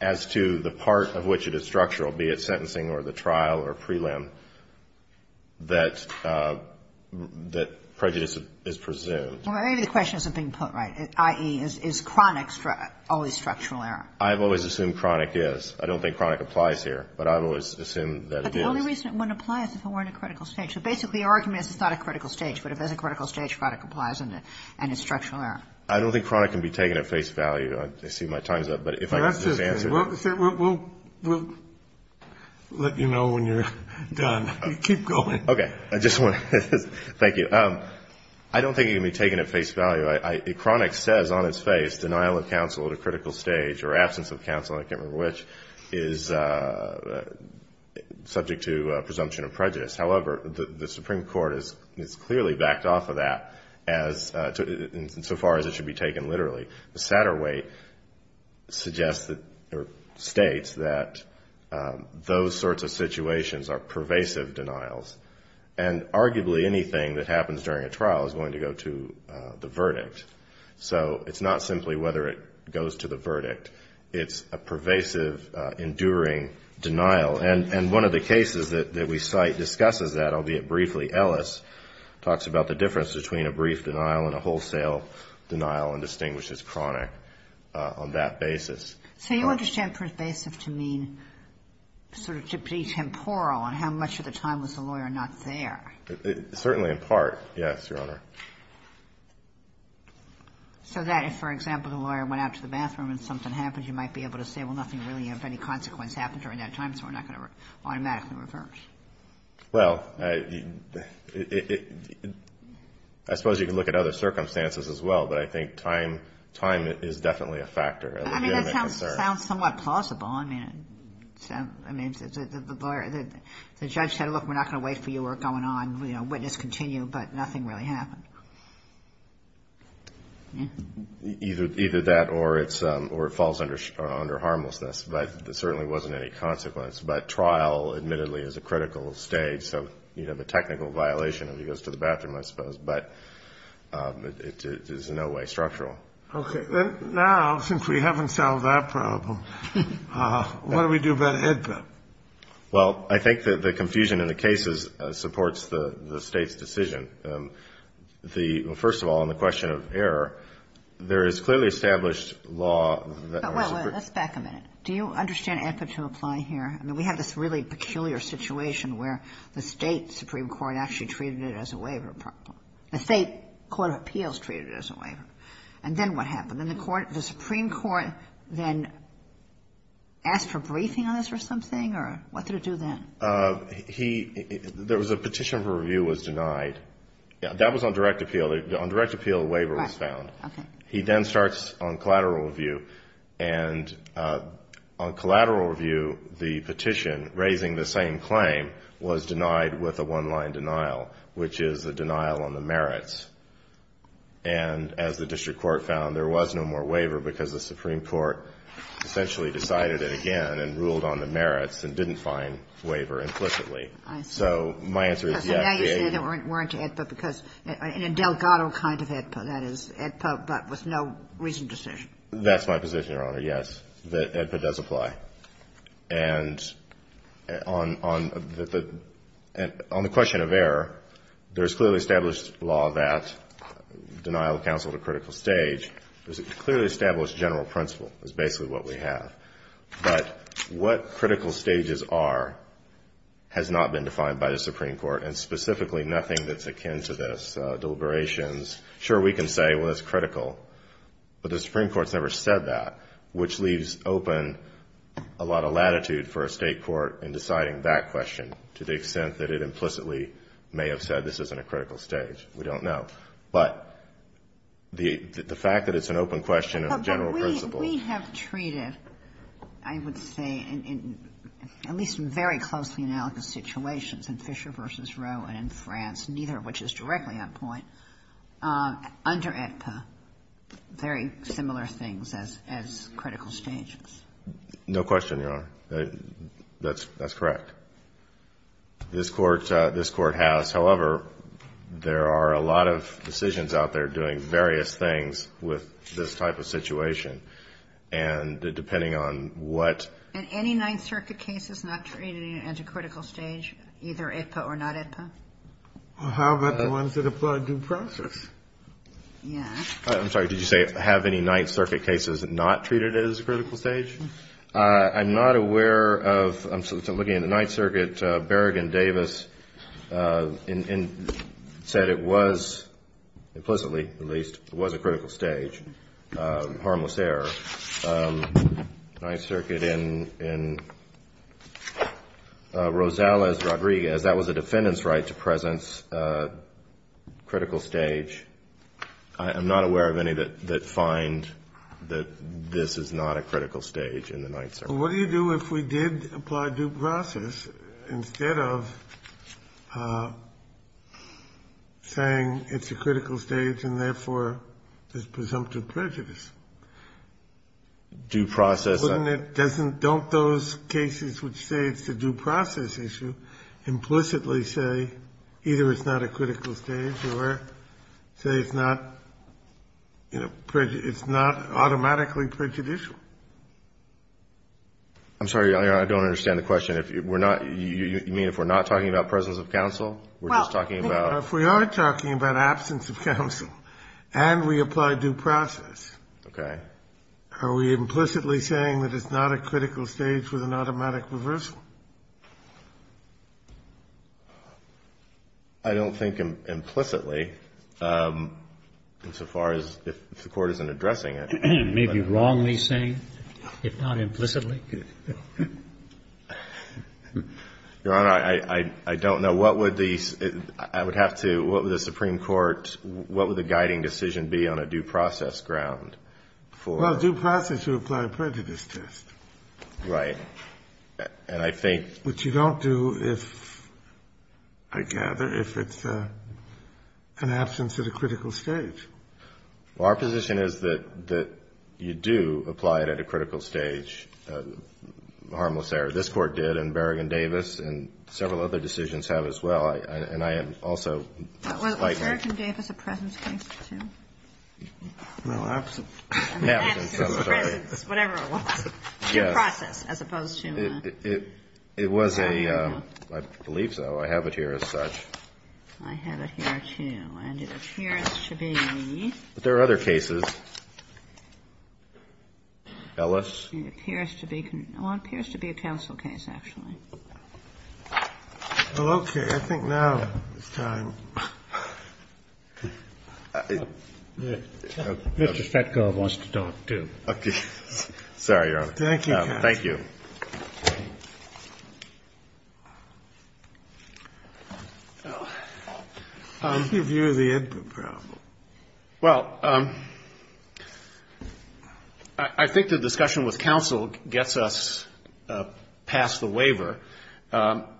as to the part of which it is structural, be it sentencing or the trial or prelim, that prejudice is presumed. Well, maybe the question isn't being put right. I.e., is chronic always structural error? I've always assumed chronic is. I don't think chronic applies here, but I've always assumed that it is. But the only reason it wouldn't apply is if it were in a critical stage. So basically your argument is it's not a critical stage, but if it's a critical stage, chronic applies and is structural error. I don't think chronic can be taken at face value. I see my time's up, but if I could just answer. We'll let you know when you're done. Keep going. Okay. I just want to – thank you. I don't think it can be taken at face value. Chronic says on its face denial of counsel at a critical stage or absence of counsel, I can't remember which, is subject to presumption of prejudice. However, the Supreme Court has clearly backed off of that as – insofar as it should be taken literally. The Satterweight states that those sorts of situations are pervasive denials, and arguably anything that happens during a trial is going to go to the verdict. So it's not simply whether it goes to the verdict. It's a pervasive, enduring denial. And one of the cases that we cite discusses that, albeit briefly. Ellis talks about the difference between a brief denial and a wholesale denial and distinguishes chronic on that basis. So you understand pervasive to mean sort of to be temporal on how much of the time was the lawyer not there? Certainly in part, yes, Your Honor. So that if, for example, the lawyer went out to the bathroom and something happened, you might be able to say, well, nothing really of any consequence happened during that time, so we're not going to automatically reverse. Well, I suppose you could look at other circumstances as well, but I think time is definitely a factor. I mean, that sounds somewhat plausible. I mean, the judge said, look, we're not going to wait for you, we're going on, you know, witness continue, but nothing really happened. Either that or it falls under harmlessness, but there certainly wasn't any consequence. But trial, admittedly, is a critical stage, so you'd have a technical violation if he goes to the bathroom, I suppose. But it is in no way structural. Okay. Now, since we haven't solved that problem, what do we do about AEDPA? Well, I think that the confusion in the cases supports the State's decision. The — first of all, on the question of error, there is clearly established law that — Well, let's back a minute. Do you understand AEDPA to apply here? I mean, we have this really peculiar situation where the State supreme court actually treated it as a waiver problem. The State court of appeals treated it as a waiver. And then what happened? Then the Supreme Court then asked for briefing on this or something? Or what did it do then? He — there was a petition for review was denied. That was on direct appeal. On direct appeal, a waiver was found. He then starts on collateral review, and on collateral review, the petition raising the same claim was denied with a one-line denial, which is a denial on the merits. And as the district court found, there was no more waiver because the Supreme Court essentially decided it again and ruled on the merits and didn't find waiver implicitly. I see. So my answer is, yes, the AEDPA — Because the AEDPA weren't to AEDPA because — in Delgado kind of AEDPA, that is, AEDPA but with no reasoned decision. That's my position, Your Honor, yes, that AEDPA does apply. And on the question of error, there's clearly established law that denial of counsel is a critical stage. There's a clearly established general principle is basically what we have. But what critical stages are has not been defined by the Supreme Court, and specifically nothing that's akin to this, deliberations. Sure, we can say, well, it's critical, but the Supreme Court's never said that, which leaves open a lot of latitude for a State court in deciding that question to the extent that it implicitly may have said this isn't a critical stage. We don't know. But the fact that it's an open question and a general principle — But we have treated, I would say, in at least very closely analogous situations, in Fisher v. Roe and in France, neither of which is directly on point, under AEDPA, very similar things as critical stages. No question, Your Honor. That's correct. This Court has. However, there are a lot of decisions out there doing various things with this type of situation, and depending on what — And any Ninth Circuit cases not treated at a critical stage, either AEDPA or not AEDPA? How about the ones that apply due process? Yeah. I'm sorry, did you say have any Ninth Circuit cases not treated as a critical stage? I'm not aware of — I'm looking at the Ninth Circuit. Berrigan-Davis said it was implicitly, at least, it was a critical stage, harmless error. Ninth Circuit in Rosales-Rodriguez, that was a defendant's right to presence, critical stage. I'm not aware of any that find that this is not a critical stage in the Ninth Circuit. Well, what do you do if we did apply due process instead of saying it's a critical stage and, therefore, there's presumptive prejudice? Due process — Wouldn't it — doesn't — don't those cases which say it's a due process issue implicitly say either it's not a critical stage or something else? Say it's not, you know, it's not automatically prejudicial. I'm sorry, I don't understand the question. If we're not — you mean if we're not talking about presence of counsel? We're just talking about — Well, if we are talking about absence of counsel and we apply due process — Okay. Are we implicitly saying that it's not a critical stage with an automatic reversal? I don't think implicitly, insofar as if the Court isn't addressing it. It may be wrongly saying, if not implicitly. Your Honor, I don't know. What would the — I would have to — what would the Supreme Court — what would the guiding decision be on a due process ground for — Well, due process would apply prejudice test. Right. And I think — Which you don't do if, I gather, if it's an absence at a critical stage. Well, our position is that you do apply it at a critical stage, harmless error. This Court did, and Berrigan-Davis, and several other decisions have as well. And I am also — Was Berrigan-Davis a presence case, too? No, absence. I'm sorry. Whatever it was. Due process, as opposed to — It was a — I believe so. I have it here as such. I have it here, too. And it appears to be — But there are other cases. Ellis. It appears to be — well, it appears to be a counsel case, actually. Well, okay. I think now is time. Mr. Fetkov wants to talk, too. Okay. Sorry, Your Honor. Thank you, counsel. Thank you. How do you view the input problem?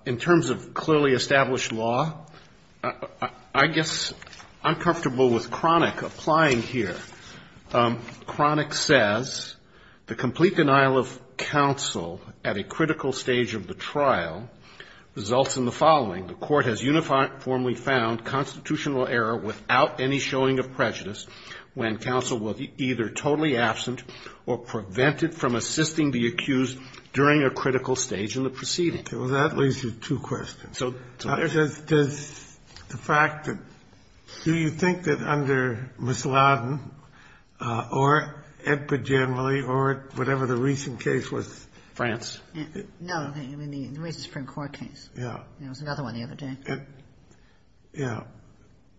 In terms of clearly established law, I guess I'm comfortable with Cronick applying here. Cronick says, The complete denial of counsel at a critical stage of the trial results in the following. The court has uniformly found constitutional error without any showing of prejudice when counsel was either totally absent or prevented from assisting the accused during a critical stage in the proceeding. Okay. Well, that leads to two questions. So — Does the fact that — do you think that under Ms. Loudon or Edpert generally or whatever the recent case was — France. No. I mean, the recent Supreme Court case. Yeah. It was another one the other day. Yeah.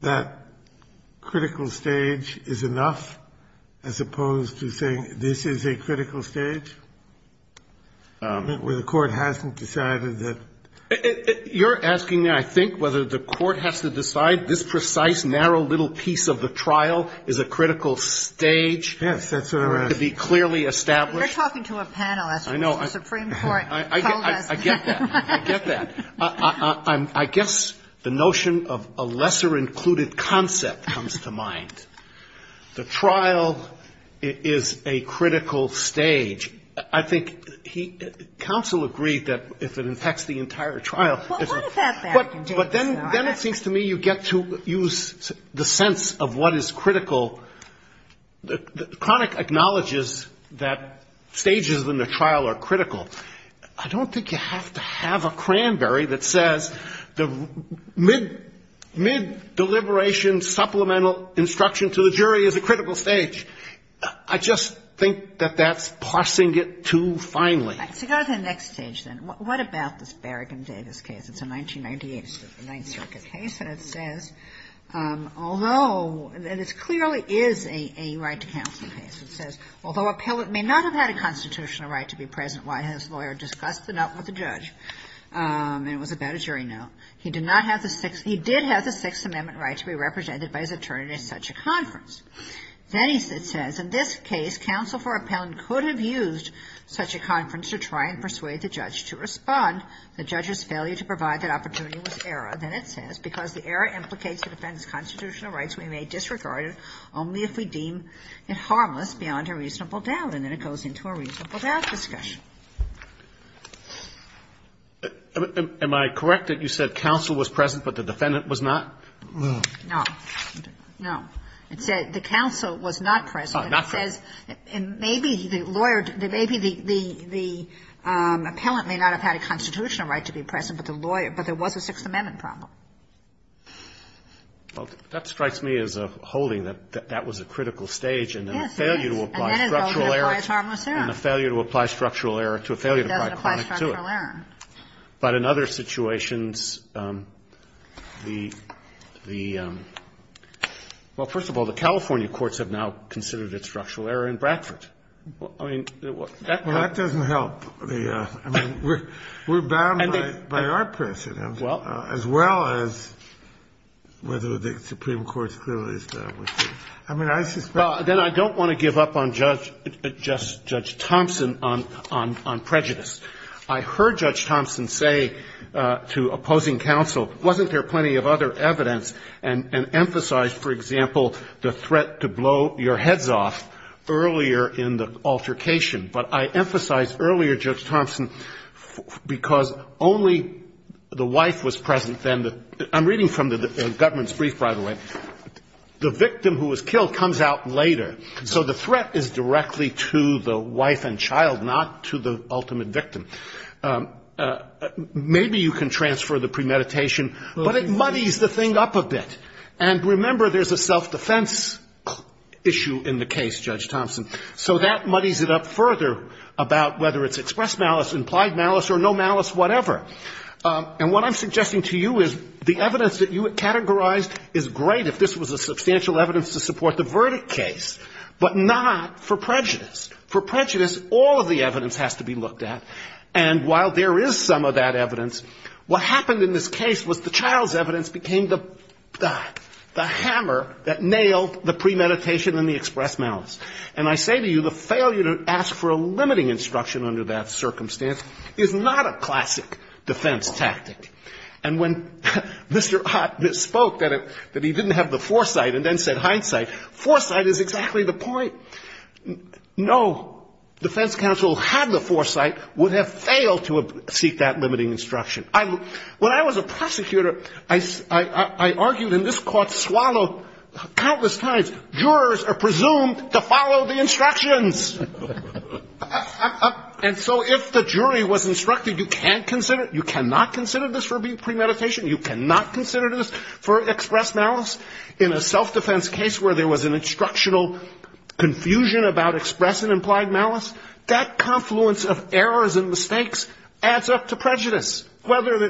That critical stage is enough as opposed to saying this is a critical stage where the court hasn't decided that — You're asking, I think, whether the court has to decide this precise, narrow little piece of the trial is a critical stage. Yes, that's what I'm asking. To be clearly established. You're talking to a panelist. I know. The Supreme Court told us. I get that. I get that. I guess the notion of a lesser included concept comes to mind. The trial is a critical stage. I think he — counsel agreed that if it impacts the entire trial — Well, what if that's that? But then it seems to me you get to use the sense of what is critical. The chronic acknowledges that stages in the trial are critical. I don't think you have to have a cranberry that says the mid-deliberation supplemental instruction to the jury is a critical stage. I just think that that's parsing it too finely. All right. So go to the next stage, then. What about this Berrigan Davis case? It's a 1998 Ninth Circuit case. And it says, although — and this clearly is a right to counsel case. It says, Although appellant may not have had a constitutional right to be present while his lawyer discussed the note with the judge — and it was about a jury note — he did have the Sixth Amendment right to be represented by his attorney at such a conference. Then it says, In this case, counsel for appellant could have used such a conference to try and persuade the judge to respond. The judge's failure to provide that opportunity was error. Then it says, Because the error implicates the defendant's constitutional rights, we may disregard it only if we deem it harmless beyond a reasonable doubt. And then it goes into a reasonable doubt discussion. Am I correct that you said counsel was present but the defendant was not? No. No. It said the counsel was not present. It says maybe the lawyer — maybe the appellant may not have had a constitutional right to be present, but the lawyer — but there was a Sixth Amendment problem. Well, that strikes me as a holding that that was a critical stage and then a failure Yes, it is. And then it goes and applies harmless error. And a failure to apply structural error to a failure to apply chronic to it. It doesn't apply structural error. But in other situations, the — well, first of all, the California courts have now considered it structural error in Bradford. I mean, that — Well, that doesn't help. I mean, we're bound by our precedent, as well as whether the Supreme Court's clearly established it. I mean, I suspect — Well, then I don't want to give up on Judge Thompson on prejudice. I heard Judge Thompson say to opposing counsel, wasn't there plenty of other evidence and emphasize, for example, the threat to blow your heads off earlier in the altercation. But I emphasized earlier, Judge Thompson, because only the wife was present then. I'm reading from the government's brief, by the way. The victim who was killed comes out later. So the threat is directly to the wife and child, not to the ultimate victim. Maybe you can transfer the premeditation, but it muddies the thing up a bit. And remember, there's a self-defense issue in the case, Judge Thompson. So that muddies it up further about whether it's express malice, implied malice, or no malice, whatever. And what I'm suggesting to you is the evidence that you had categorized is great if this was a substantial evidence to support the verdict case, but not for prejudice. For prejudice, all of the evidence has to be looked at. And while there is some of that evidence, what happened in this case was the child's evidence became the hammer that nailed the premeditation and the express malice. And I say to you, the failure to ask for a limiting instruction under that circumstance is not a classic defense tactic. And when Mr. Ott misspoke that he didn't have the foresight and then said hindsight, foresight is exactly the point. No defense counsel who had the foresight would have failed to seek that limiting instruction. When I was a prosecutor, I argued in this court swallow countless times, jurors are presumed to follow the instructions. And so if the jury was instructed you can't consider it, you cannot consider this for premeditation, you cannot consider this for express malice, in a self-defense case where there was an instructional confusion about express and implied malice, that confluence of errors and mistakes adds up to prejudice.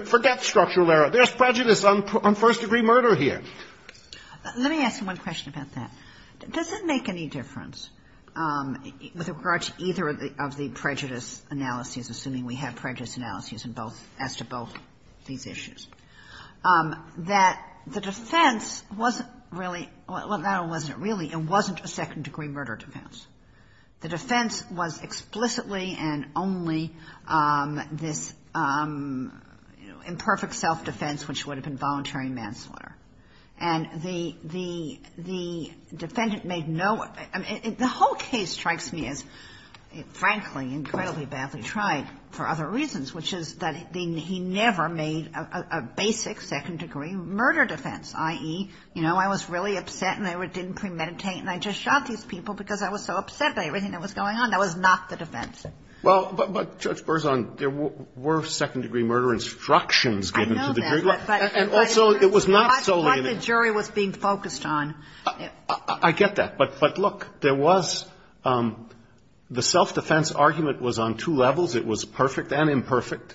Forget structural error. There's prejudice on first-degree murder here. Let me ask you one question about that. Does it make any difference with regard to either of the prejudice analyses, assuming we have prejudice analyses in both, as to both these issues, that the defense wasn't really, well, not it wasn't really, it wasn't a second-degree murder defense. The defense was explicitly and only this imperfect self-defense which would have been voluntary manslaughter. And the defendant made no, the whole case strikes me as frankly incredibly badly tried for other reasons, which is that he never made a basic second-degree murder defense, i.e., you know, I was really upset and I didn't premeditate and I just shot these people because I was so upset by everything that was going on. That was not the defense. Well, but, Judge Berzon, there were second-degree murder instructions given to the jury. I know that. And also, it was not solely the jury was being focused on. I get that. But look, there was the self-defense argument was on two levels. It was perfect and imperfect.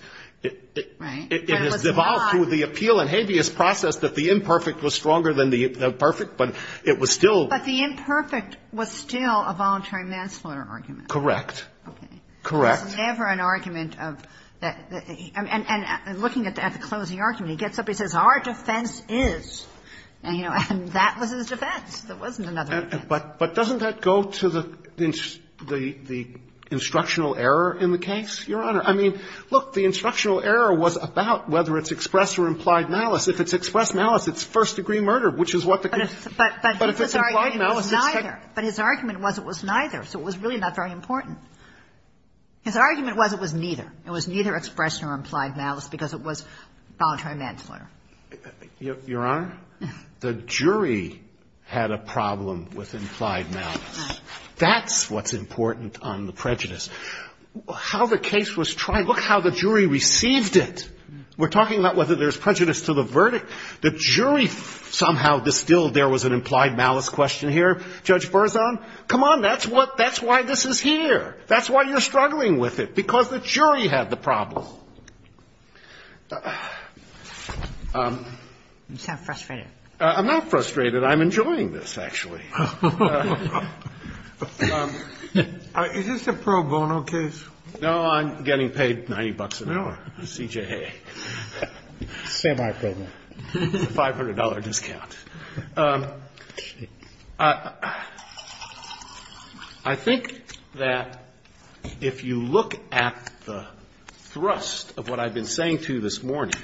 Right. But it was not. It was devolved through the appeal and habeas process that the imperfect was stronger than the perfect, but it was still. But the imperfect was still a voluntary manslaughter argument. Correct. Okay. Correct. There was never an argument of that. And looking at the closing argument, he gets up, he says, our defense is. And, you know, that was his defense. There wasn't another defense. But doesn't that go to the instructional error in the case, Your Honor? I mean, look, the instructional error was about whether it's expressed or implied malice. If it's expressed malice, it's first-degree murder, which is what the case. But if it's implied malice. But his argument was it was neither. So it was really not very important. His argument was it was neither. It was neither expressed nor implied malice because it was voluntary manslaughter. Your Honor, the jury had a problem with implied malice. That's what's important on the prejudice. How the case was tried, look how the jury received it. We're talking about whether there's prejudice to the verdict. The jury somehow distilled there was an implied malice question here. Judge Berzon, come on. That's why this is here. That's why you're struggling with it, because the jury had the problem. You sound frustrated. I'm not frustrated. I'm enjoying this, actually. Is this a pro bono case? No, I'm getting paid 90 bucks an hour, CJA. Semi-pro bono. It's a $500 discount. I think that if you look at the thrust of what I've been saying to you this morning,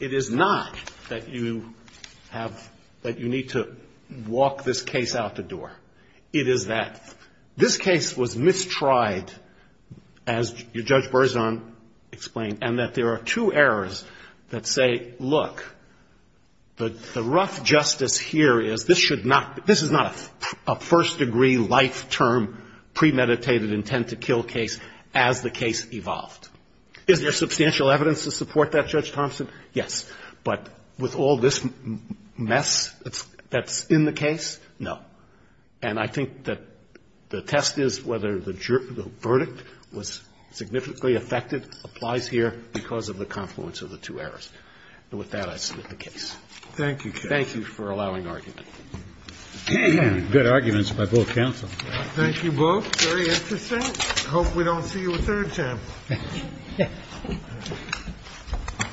it is not that you have, that you need to walk this case out the door. It is that this case was mistried, as Judge Berzon explained, and that there are two errors that say, look, the rough justice here is this should not, this is not a first degree life term premeditated intent to kill case as the case evolved. Is there substantial evidence to support that, Judge Thompson? Yes. But with all this mess that's in the case, no. And I think that the test is whether the verdict was significantly affected, applies here because of the confluence of the two errors. And with that, I submit the case. Thank you, counsel. Thank you for allowing argument. Good arguments by both counsel. Thank you both. Very interesting. I hope we don't see you a third time. Thank you. Thank you.